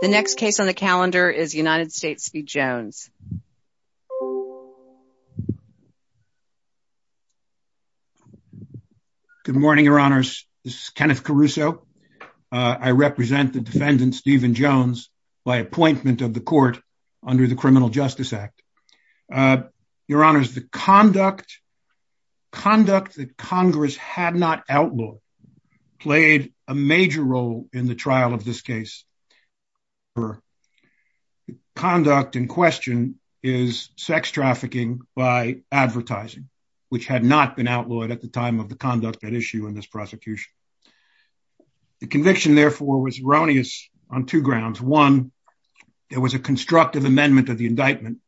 The next case on the calendar is United States v. Jones. Good morning, your honors. This is Kenneth Caruso. I represent the defendant Stephen Jones by appointment of the court under the Criminal Justice Act. Your honors, the conduct that Congress had not outlawed played a major role in the trial of this case. The conduct in question is sex trafficking by advertising, which had not been outlawed at the time of the conduct at issue in this prosecution. The conviction, therefore, was erroneous on two grounds. One, there was a constructive amendment of the indictment,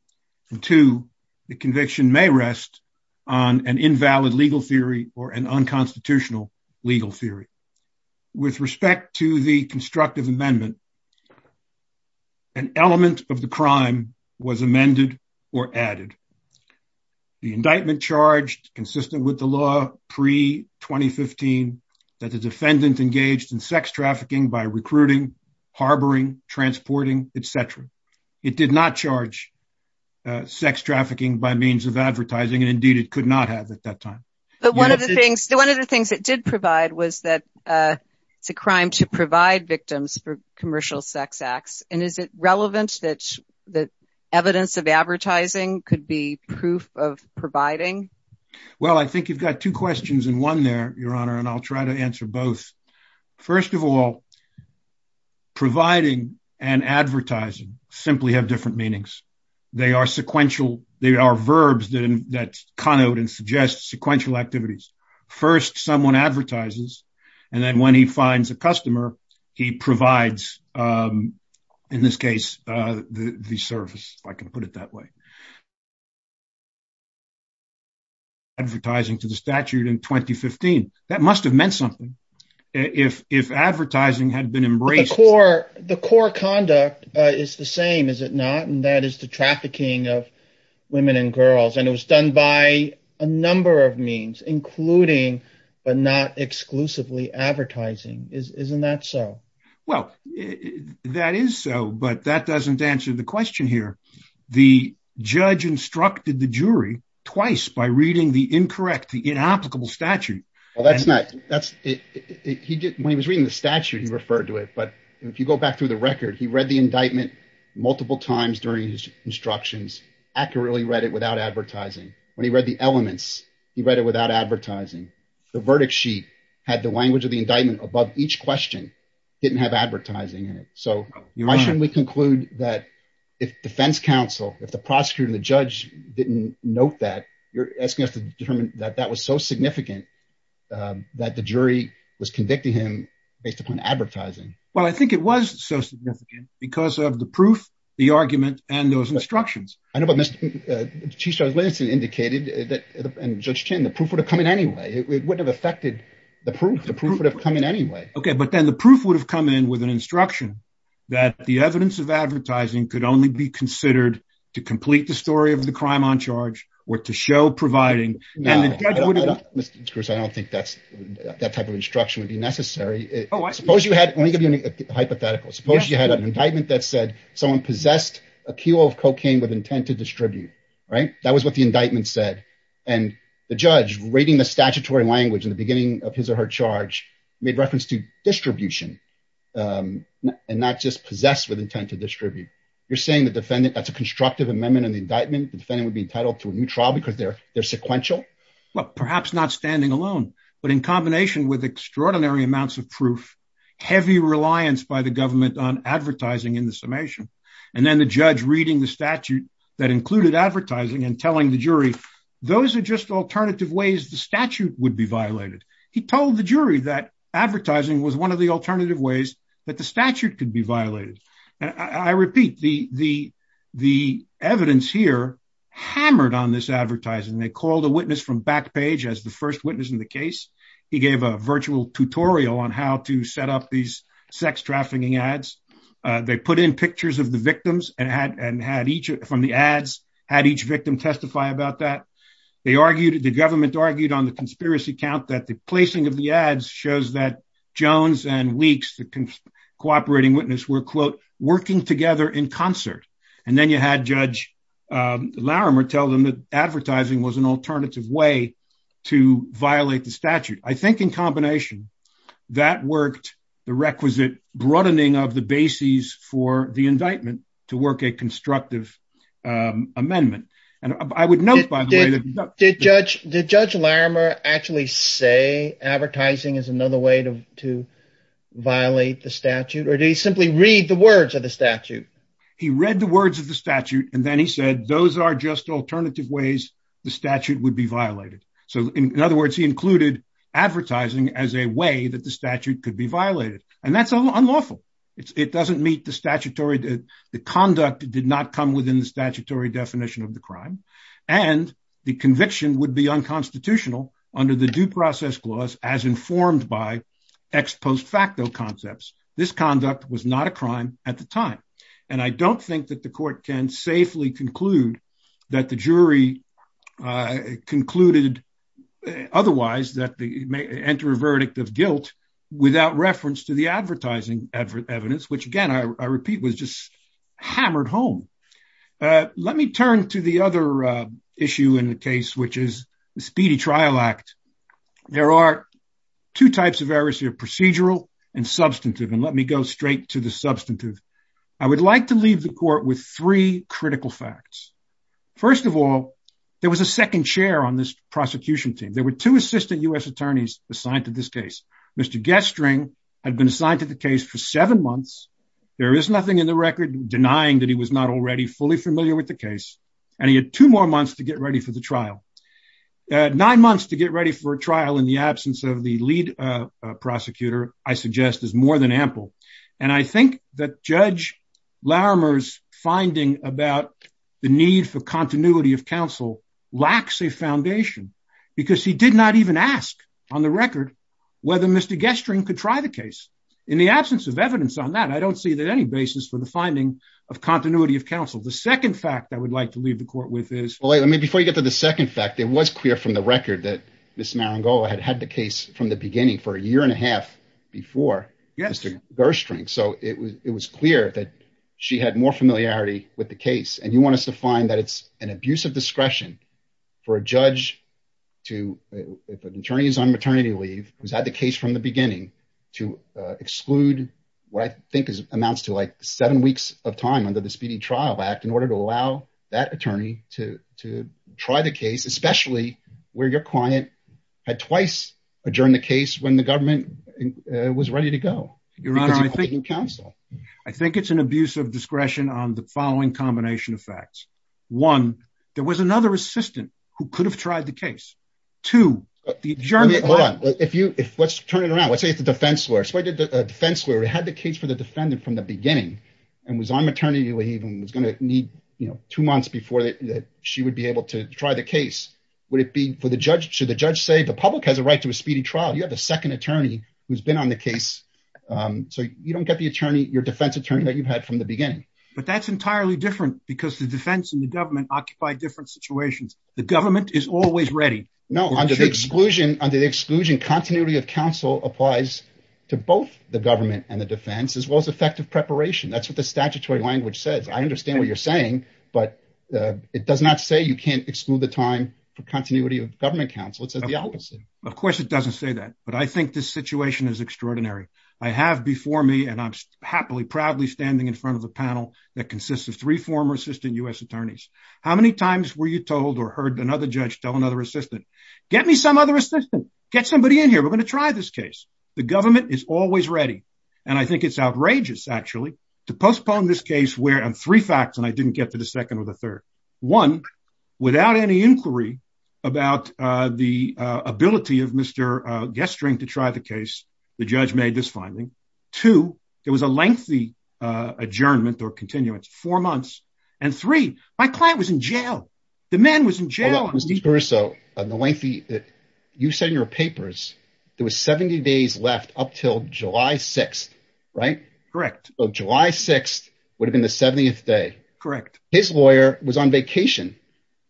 and two, the conviction may rest on an invalid legal theory or an unconstitutional legal theory. With respect to the constructive amendment, an element of the crime was amended or added. The indictment charged, consistent with the law pre-2015, that the defendant engaged in sex trafficking by recruiting, harboring, transporting, etc. It did not charge sex trafficking by means of advertising, and indeed it could not have at that time. But one of the things that did provide was that it's a crime to provide victims for commercial sex acts, and is it relevant that evidence of advertising could be proof of providing? Well, I think you've got two questions in one there, your honor, and I'll try to answer both. First of all, providing and advertising simply have different meanings. They are sequential, they are verbs that connote and suggest sequential activities. First, someone advertises, and then when he finds a customer, he provides, in this case, the service, if I can put it that way. Advertising to the statute in 2015, that must have meant something. If advertising had been The core conduct is the same, is it not? And that is the trafficking of women and girls, and it was done by a number of means, including but not exclusively advertising. Isn't that so? Well, that is so, but that doesn't answer the question here. The judge instructed the jury twice by reading the incorrect, the inapplicable statute. Well, that's not, when he was reading the statute, he referred to it, but if you go back through the record, he read the indictment multiple times during his instructions, accurately read it without advertising. When he read the elements, he read it without advertising. The verdict sheet had the language of the indictment above each question, didn't have advertising in it. So, why shouldn't we conclude that if defense counsel, if the prosecutor and the judge didn't note that, you're asking us to determine that that was so significant that the jury was convicting him based upon advertising? Well, I think it was so significant because of the proof, the argument, and those instructions. I know, but Mr. Chief Justice Lansing indicated that, and Judge Chin, the proof would have come in anyway. It wouldn't have affected the proof. The proof would have come in anyway. Okay, but then the proof would have come in with an instruction that the evidence of advertising could only be considered to complete the story of the crime on charge or to show providing, and the judge would have... Mr. Cruz, I don't think that type of instruction would be necessary. Suppose you had, let me give you a hypothetical. Suppose you had an indictment that said someone possessed a kilo of cocaine with intent to distribute, right? That was what the indictment said. And the judge reading the statutory language in the beginning of his or her charge made reference to distribution and not just possessed with intent to distribute. You're saying the defendant, that's a constructive amendment in the indictment, the defendant would be entitled to a new trial because they're sequential? Well, perhaps not standing alone, but in combination with extraordinary amounts of proof, heavy reliance by the government on advertising in the summation. And then the judge reading the statute that included advertising and telling the jury, those are just alternative ways the statute would be violated. He told the jury that advertising was one of the alternative ways that statute could be violated. I repeat, the evidence here hammered on this advertising. They called a witness from Backpage as the first witness in the case. He gave a virtual tutorial on how to set up these sex trafficking ads. They put in pictures of the victims and had each from the ads, had each victim testify about that. The government argued on the conspiracy count that the placing of the cooperating witness were, quote, working together in concert. And then you had Judge Larimer tell them that advertising was an alternative way to violate the statute. I think in combination, that worked the requisite broadening of the bases for the indictment to work a constructive amendment. And I would note, by the way- Did Judge Larimer actually say advertising is another way to violate the statute? Or did he simply read the words of the statute? He read the words of the statute, and then he said, those are just alternative ways the statute would be violated. So in other words, he included advertising as a way that the statute could be violated. And that's unlawful. It doesn't meet the statutory, the conduct did not come within the statutory definition of the crime. And the conviction would be unconstitutional under the Due Process Clause, as informed by ex post facto concepts. This conduct was not a crime at the time. And I don't think that the court can safely conclude that the jury concluded otherwise that they may enter a verdict of guilt without reference to the advertising evidence, which again, I repeat, was just hammered home. Let me turn to the other issue in the case, which is the Speedy Trial Act. There are two types of errors here, procedural and substantive. And let me go straight to the substantive. I would like to leave the court with three critical facts. First of all, there was a second chair on this prosecution team. There were two assistant US attorneys assigned to this case. Mr. Gestring had been assigned to the case for seven months. There is nothing in the record denying that he was not already fully familiar with the case. And he had two more months to get ready for the trial. Nine months to get ready for trial in the absence of the lead prosecutor, I suggest is more than ample. And I think that Judge Larimer's finding about the need for continuity of counsel lacks a foundation, because he did not even ask on the record, whether Mr. Gestring could try the case. In the absence of evidence on that, I don't see that any basis for finding of continuity of counsel. The second fact I would like to leave the court with is... Well, before you get to the second fact, it was clear from the record that Ms. Marangolo had had the case from the beginning for a year and a half before Mr. Gestring. So it was clear that she had more familiarity with the case. And you want us to find that it's an abuse of discretion for a judge to, if an attorney is on maternity leave, who's had the case from the under the Speedy Trial Act in order to allow that attorney to try the case, especially where your client had twice adjourned the case when the government was ready to go. I think it's an abuse of discretion on the following combination of facts. One, there was another assistant who could have tried the case. Two, the adjournment... Hold on. Let's turn it around. Let's say it's the defense lawyer. Let's say the defense lawyer had the case for the defendant from the beginning and was on maternity leave and was going to need two months before she would be able to try the case. Should the judge say, the public has a right to a speedy trial. You have a second attorney who's been on the case. So you don't get the attorney, your defense attorney that you've had from the beginning. But that's entirely different because the defense and the government occupy different situations. The government is always ready. No, under the exclusion continuity of counsel applies to both the government and the defense, as well as effective preparation. That's what the statutory language says. I understand what you're saying, but it does not say you can't exclude the time for continuity of government counsel. It says the opposite. Of course it doesn't say that, but I think this situation is extraordinary. I have before me, and I'm happily, proudly standing in front of the panel that consists of three former assistant U.S. attorneys. How many times were you told or heard another judge tell another assistant, get me some other assistant, get somebody in here. We're going to try this case. The government is always ready. And I think it's outrageous actually to postpone this case where I'm three facts and I didn't get to the second or the third. One, without any inquiry about the ability of Mr. Gesturing to try the case, the judge made this finding. Two, there was a lengthy adjournment or continuance, four months. And three, my client was in jail. The man was in jail. So the lengthy that you said in your papers, there was 70 days left up till July 6th, right? Correct. July 6th would have been the 70th day. Correct. His lawyer was on vacation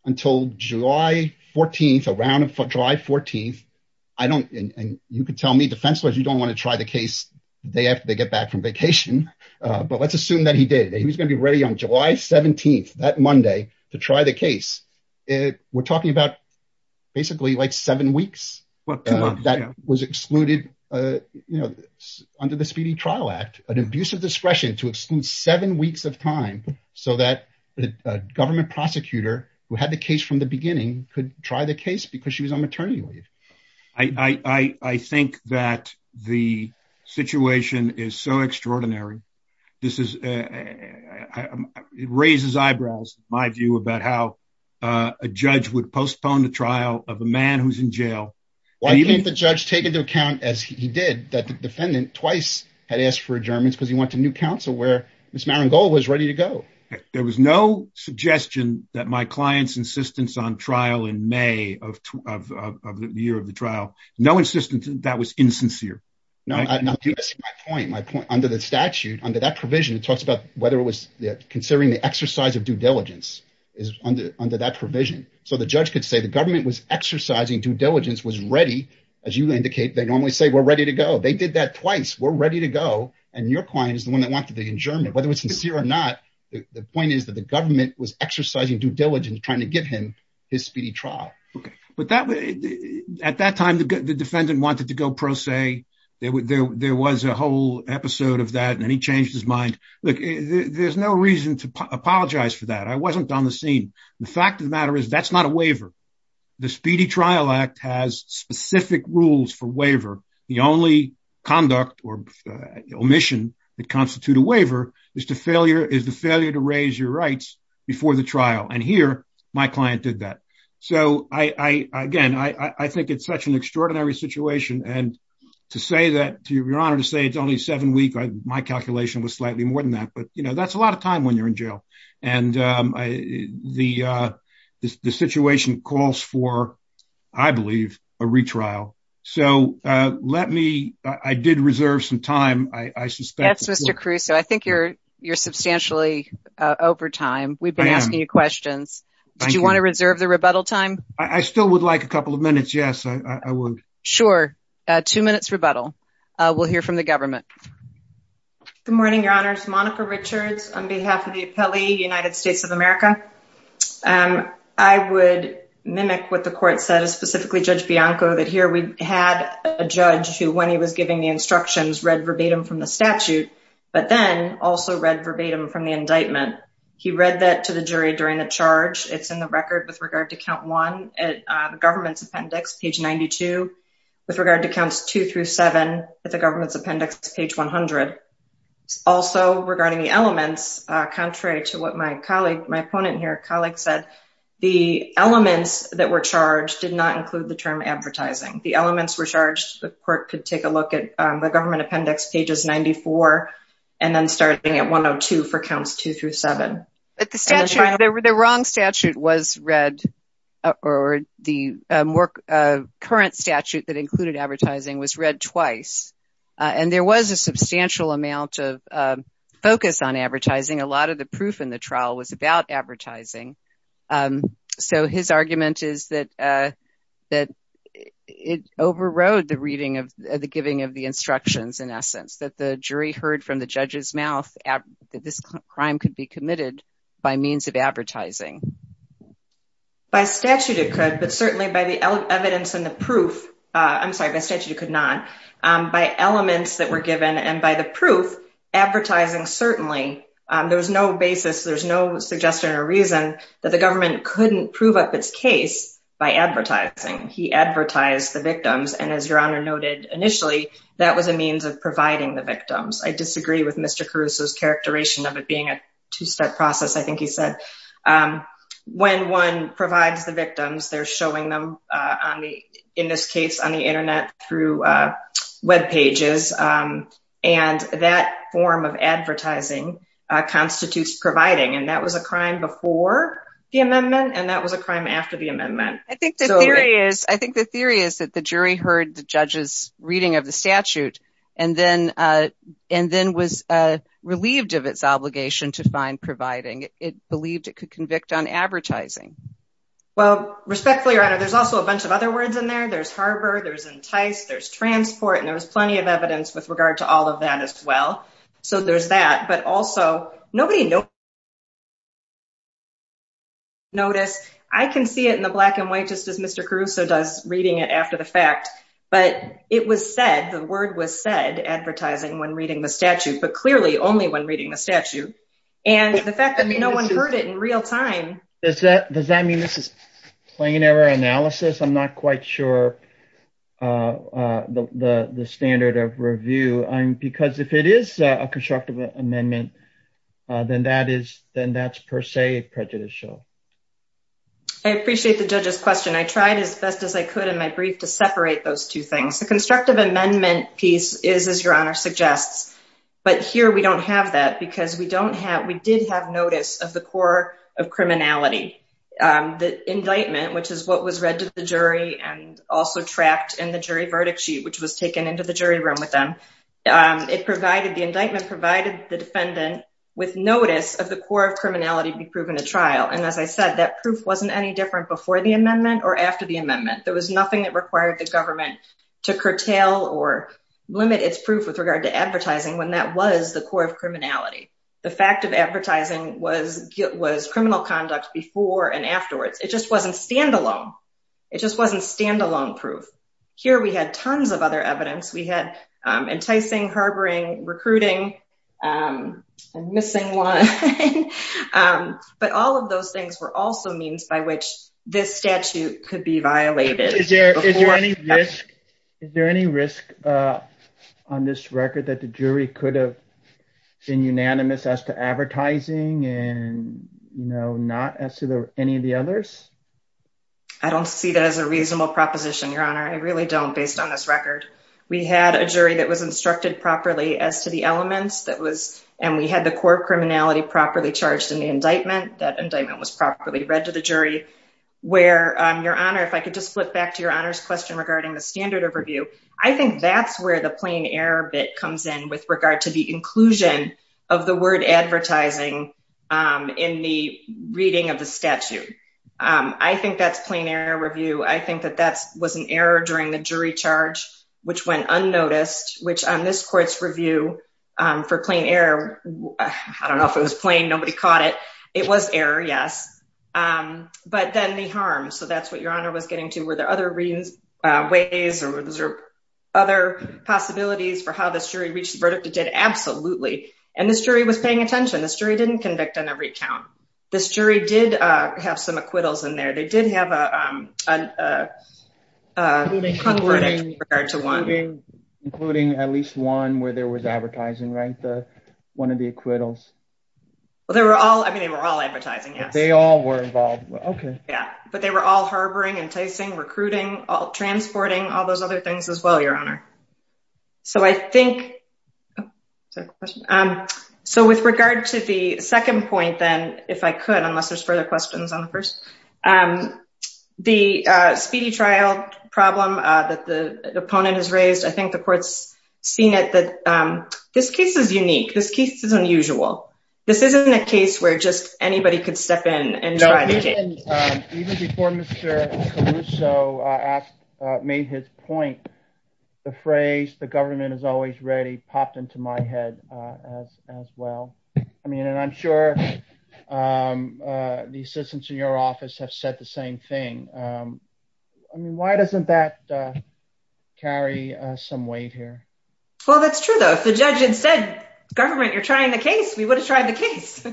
until July 14th, around July 14th. I don't, and you can tell me defense lawyers, you don't want to try the case the day after they get back from vacation. But let's assume that he was going to be ready on July 17th that Monday to try the case. We're talking about basically like seven weeks that was excluded under the Speedy Trial Act, an abuse of discretion to exclude seven weeks of time so that the government prosecutor who had the case from the beginning could try the case because she was on maternity leave. I think that the situation is so it raises eyebrows, my view about how a judge would postpone the trial of a man who's in jail. Why can't the judge take into account as he did that the defendant twice had asked for adjournments because he went to new counsel where Ms. Marangol was ready to go. There was no suggestion that my client's insistence on trial in May of the year of the trial, no insistence that was insincere. No, you missed my point. My point under the statute, under that provision, it talks about whether it was considering the exercise of due diligence is under that provision. So the judge could say the government was exercising due diligence, was ready. As you indicate, they normally say we're ready to go. They did that twice. We're ready to go. And your client is the one that wanted the adjournment, whether it's sincere or not. The point is that the government was exercising due diligence trying to give him his speedy trial. Okay. But at that time, the defendant wanted to go pro se. There was a whole episode of that and then he changed his mind. Look, there's no reason to apologize for that. I wasn't on the scene. The fact of the matter is that's not a waiver. The Speedy Trial Act has specific rules for waiver. The only conduct or omission that constitute a waiver is the failure to raise your rights before the trial. And here, my client did that. So again, I think it's such an extraordinary situation. And to say that, to your honor, to say it's only seven weeks, my calculation was slightly more than that. But that's a lot of time when you're in jail. And the situation calls for, I believe, a retrial. So let me, I did reserve some time, I suspect. That's Mr. Caruso. I think you're Thank you. Did you want to reserve the rebuttal time? I still would like a couple of minutes. Yes, I would. Sure. Two minutes rebuttal. We'll hear from the government. Good morning, your honors. Monica Richards on behalf of the appellee, United States of America. I would mimic what the court said, specifically Judge Bianco, that here we had a judge who when he was giving the instructions read verbatim from the statute, but then also read verbatim from the indictment. He read that to the jury during the charge. It's in the record with regard to count one at the government's appendix, page 92. With regard to counts two through seven at the government's appendix, page 100. Also regarding the elements, contrary to what my colleague, my opponent here, colleague said, the elements that were charged did not include the term advertising. The elements were charged, the court could take a look at the government appendix, pages 94, and then starting at 102 for counts two through seven. The wrong statute was read, or the current statute that included advertising was read twice. There was a substantial amount of focus on advertising. A lot of the proof in the trial was about advertising. So his argument is that it overrode the reading of the giving of the instructions in essence. That the jury heard from the judge's mouth that this crime could be committed by means of advertising. By statute it could, but certainly by the evidence and the proof, I'm sorry, by statute it could not. By elements that were given and by the proof, advertising certainly, there was no basis, there's no suggestion or reason that the government couldn't prove up its case by advertising. He advertised the victims and as your honor noted initially, that was a means of providing the victims. I disagree with Mr. Caruso's characterization of it being a two-step process, I think he said. When one provides the victims, they're showing them in this case on the internet through web pages and that form of advertising constitutes providing and that was a crime before the amendment and that was a crime after the amendment. I think the theory is that the jury heard the judge's reading of the statute and then was relieved of its obligation to find providing. It believed it could convict on advertising. Well respectfully your honor, there's also a bunch of words in there, there's harbor, there's entice, there's transport, and there's plenty of evidence with regard to all of that as well. So there's that, but also nobody noticed. I can see it in the black and white just as Mr. Caruso does reading it after the fact, but it was said, the word was said, advertising when reading the statute, but clearly only when reading the statute and the fact that no one heard it in real time. Does that mean this is plain error analysis? I'm not quite sure the standard of review because if it is a constructive amendment, then that's per se prejudicial. I appreciate the judge's question. I tried as best as I could in my brief to separate those two things. The constructive amendment piece is as your honor suggests, but here we don't have that because we did have notice of the core of criminality. The indictment, which is what was read to the jury and also tracked in the jury verdict sheet, which was taken into the jury room with them, the indictment provided the defendant with notice of the core of criminality to be proven at trial. And as I said, that proof wasn't any different before the amendment or after the amendment. There was nothing that required the government to curtail or limit its proof with regard to advertising when that was the core of criminality. The fact of advertising was criminal conduct before and afterwards. It just wasn't standalone. It just wasn't standalone proof. Here we had tons of other evidence. We had enticing, harboring, recruiting, and missing one. But all of those things were also means by which this statute could be violated. Is there any risk on this record that the jury could have been unanimous as to advertising and no, not as to any of the others? I don't see that as a reasonable proposition, your honor. I really don't based on this record. We had a jury that was instructed properly as to the elements that was, and we had the core criminality properly charged in the indictment. That indictment was properly read to the jury where your honor, if I could just flip back to your honor's question regarding the standard of review, I think that's where the plain error bit comes in with regard to the inclusion of the word advertising in the reading of the statute. I think that's plain error review. I think that that was an error during the jury charge, which went unnoticed, which on this court's review for plain error, I don't know if it was plain, nobody caught it. It was error, yes. But then the harm, so that's what your honor was getting to. Were there other ways or were there other possibilities for how this jury reached the verdict? It did absolutely. And this jury was paying attention. This jury didn't convict on every count. This jury did have some acquittals in there. They did have a- Including at least one where there was advertising, right? One of the acquittals. Well, they were all, I mean, they were all advertising, yes. They all were involved. Okay. But they were all harboring, enticing, recruiting, all transporting, all those other things as well, your honor. So I think, so with regard to the second point, then if I could, unless there's further questions on the first, the speedy trial problem that the opponent has raised, I think the court's seen it that this case is unique. This case is unusual. This isn't a case where just anybody could step in and try the case. Even before Mr. Caruso made his point, the phrase, the government is always ready, popped into my head as well. I mean, and I'm sure the assistants in your office have said the same thing. I mean, why doesn't that carry some weight here? Well, that's true though. If the judge had said, government, you're trying the case, we would have tried the case.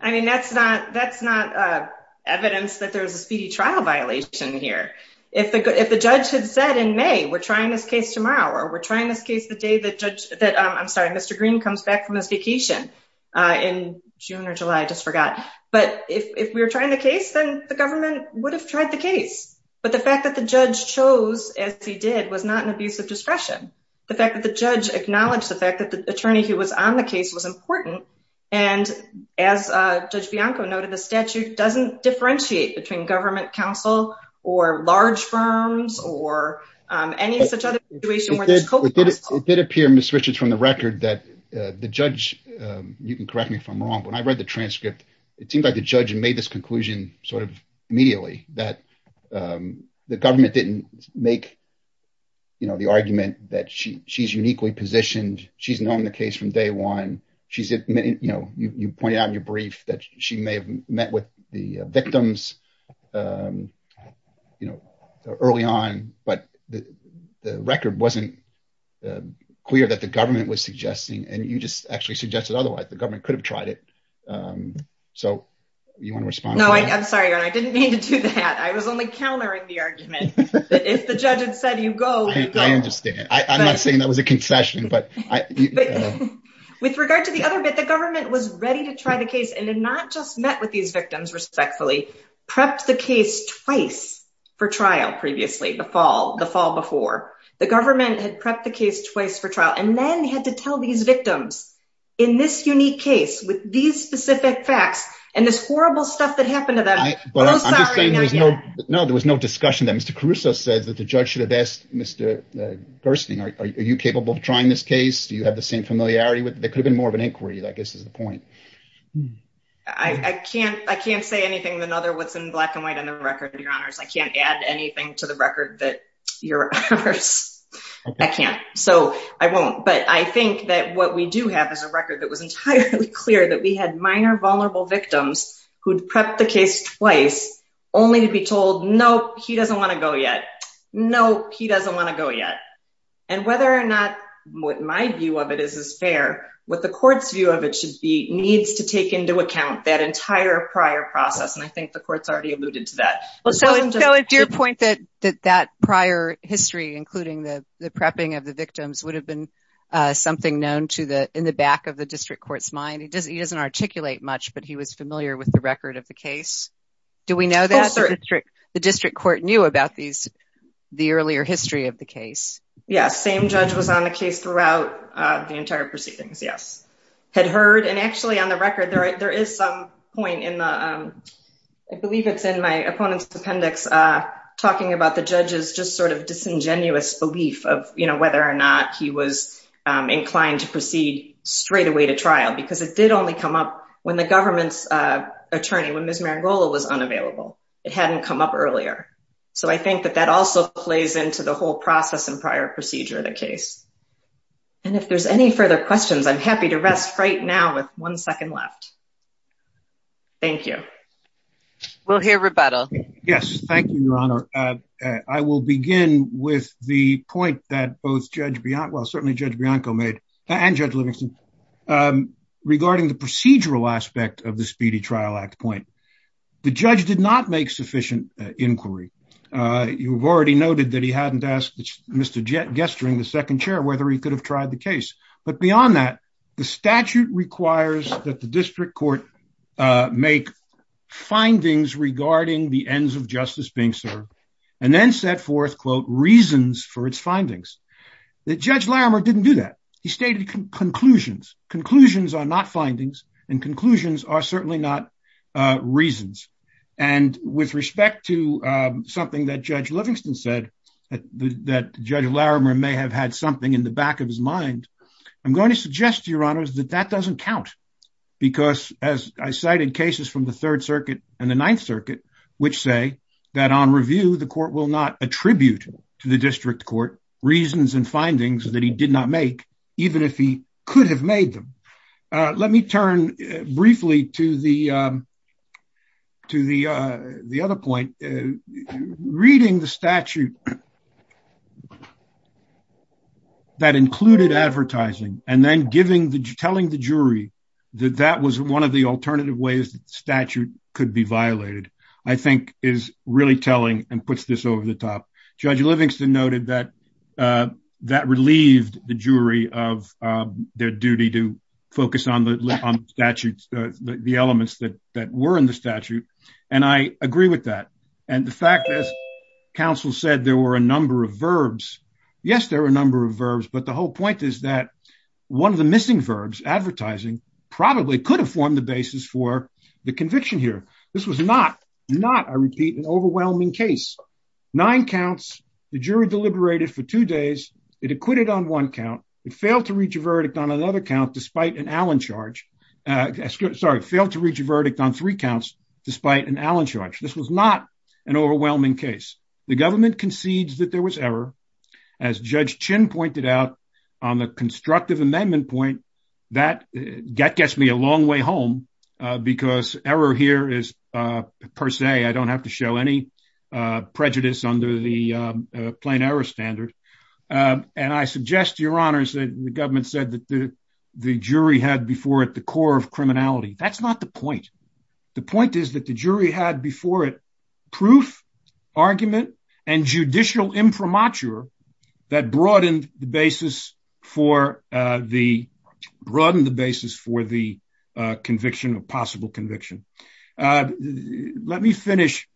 I mean, that's not evidence that there was a speedy trial violation here. If the judge had said in May, we're trying this case tomorrow, or we're trying this case the day that judge, that I'm sorry, Mr. Green comes back from his vacation in June or July, I just forgot. But if we were trying the case, then the government would have tried the case. But the fact that the judge chose as he did was not an abuse of discretion. The fact that the and as Judge Bianco noted, the statute doesn't differentiate between government counsel or large firms or any such other situation. It did appear, Ms. Richards, from the record that the judge, you can correct me if I'm wrong, but when I read the transcript, it seemed like the judge had made this conclusion sort of immediately that the government didn't make the argument that she's uniquely positioned. She's known the case from day one. She's you pointed out in your brief that she may have met with the victims early on, but the record wasn't clear that the government was suggesting and you just actually suggested otherwise, the government could have tried it. So you want to respond? No, I'm sorry. I didn't mean to do that. I was only countering the argument. If the judge had said you go, I understand. I'm not saying that was a concession, but with regard to the other bit, the government was ready to try the case and had not just met with these victims respectfully, prepped the case twice for trial previously, the fall before. The government had prepped the case twice for trial and then had to tell these victims in this unique case with these specific facts and this horrible stuff that happened to them. No, there was no discussion that Mr. Caruso says that the judge should have asked Mr. Gerstein, are you capable of trying this case? Do you have the same familiarity with it? There could have been more of an inquiry, I guess is the point. I can't say anything than other what's in black and white on the record, your honors. I can't add anything to the record that your honors, I can't. So I won't. But I think that what we do have is a record that was entirely clear that we had minor vulnerable victims who'd prepped the case twice only to be told, nope, he doesn't want to go yet. No, he doesn't want to go yet. And whether or not what my view of it is, is fair, what the court's view of it should be needs to take into account that entire prior process. And I think the court's already alluded to that. So it's your point that that prior history, including the prepping of the victims would have been something known to the, in the back of the district court's mind. He doesn't, he doesn't articulate much, but he was familiar with the record of the case. Do we know the district court knew about these, the earlier history of the case? Yes. Same judge was on the case throughout the entire proceedings. Yes. Had heard. And actually on the record, there is some point in the, I believe it's in my opponent's appendix, talking about the judge's just sort of disingenuous belief of whether or not he was inclined to proceed straight away to trial, because it did only come up when the government's was unavailable. It hadn't come up earlier. So I think that that also plays into the whole process and prior procedure of the case. And if there's any further questions, I'm happy to rest right now with one second left. Thank you. We'll hear rebuttal. Yes. Thank you, your honor. I will begin with the point that both judge beyond, well, certainly judge Bianco made and judge Livingston regarding the procedural aspect of the Speedy Trial Act point. The judge did not make sufficient inquiry. You've already noted that he hadn't asked Mr. Gesturing, the second chair, whether he could have tried the case. But beyond that, the statute requires that the district court make findings regarding the ends of justice being served and then set forth quote, reasons for its findings. That judge Larimer didn't do that. He stated conclusions. Conclusions are not findings and conclusions are certainly not reasons. And with respect to something that judge Livingston said that judge Larimer may have had something in the back of his mind. I'm going to suggest to your honors that that doesn't count, because as I cited cases from the Third Circuit and the Ninth Circuit, which say that on review, the court will not attribute to the district court reasons and findings that he did not make even if he could have made them. Let me turn briefly to the other point. Reading the statute that included advertising and then telling the jury that that was one of the alternative ways that the statute could be violated, I think is really telling and puts this over the top. Judge Livingston noted that that relieved the jury of their duty to focus on the statutes, the elements that that were in the statute. And I agree with that. And the fact that counsel said there were a number of verbs. Yes, there are a number of verbs. But the whole point is that one of the missing verbs advertising probably could have formed the basis for the conviction here. This was not, not, I repeat, an overwhelming case. Nine counts, the jury deliberated for two days. It acquitted on one count. It failed to reach a verdict on another count despite an Allen charge. Sorry, failed to reach a verdict on three counts despite an Allen charge. This was not an overwhelming case. The government concedes that there was error. As Judge Chin pointed out on the constructive amendment point, that gets me a long way home because error here is, per se, I don't have to show any prejudice under the plain error standard. And I suggest, Your Honors, that the government said that the jury had before it the core of criminality. That's not the point. The point is that the jury had before it proof, argument, and judicial imprimatur that broadened the basis for the conviction or possible conviction. Let me finish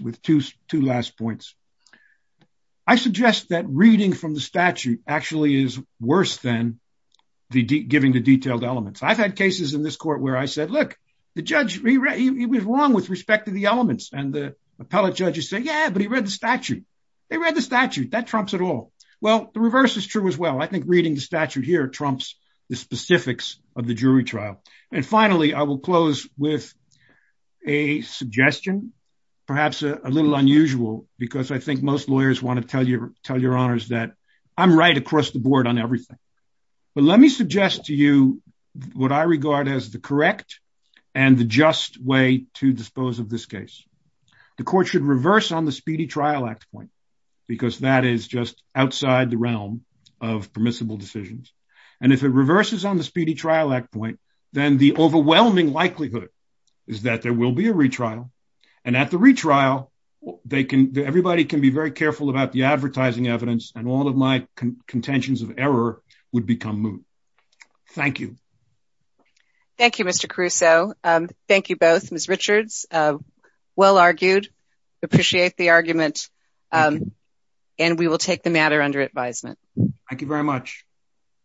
with two last points. I suggest that reading from the statute actually is worse than giving the detailed elements. I've had cases in this court where I said, look, the judge, he was wrong with respect to the elements. And the appellate judges say, yeah, but he read the statute. They read the statute. That trumps it all. Well, the reverse is true as well. I think reading the statute here trumps the specifics of the jury trial. And finally, I will close with a suggestion, perhaps a little unusual, because I think most lawyers want to tell Your Honors that I'm right across the board on everything. But let me suggest to you what I regard as the correct and the just way to dispose of this case. The court should reverse on the Speedy Trial Act point, because that is just outside the realm of permissible decisions. And if it reverses on the Speedy Trial Act point, then the overwhelming likelihood is that there will be a retrial. And at the retrial, everybody can be very careful about the advertising evidence, and all of my contentions of error would become moot. Thank you. Thank you, Mr. Caruso. Thank you both. Ms. Richards, well argued. Appreciate the argument. And we will take the matter under advisement. Thank you very much.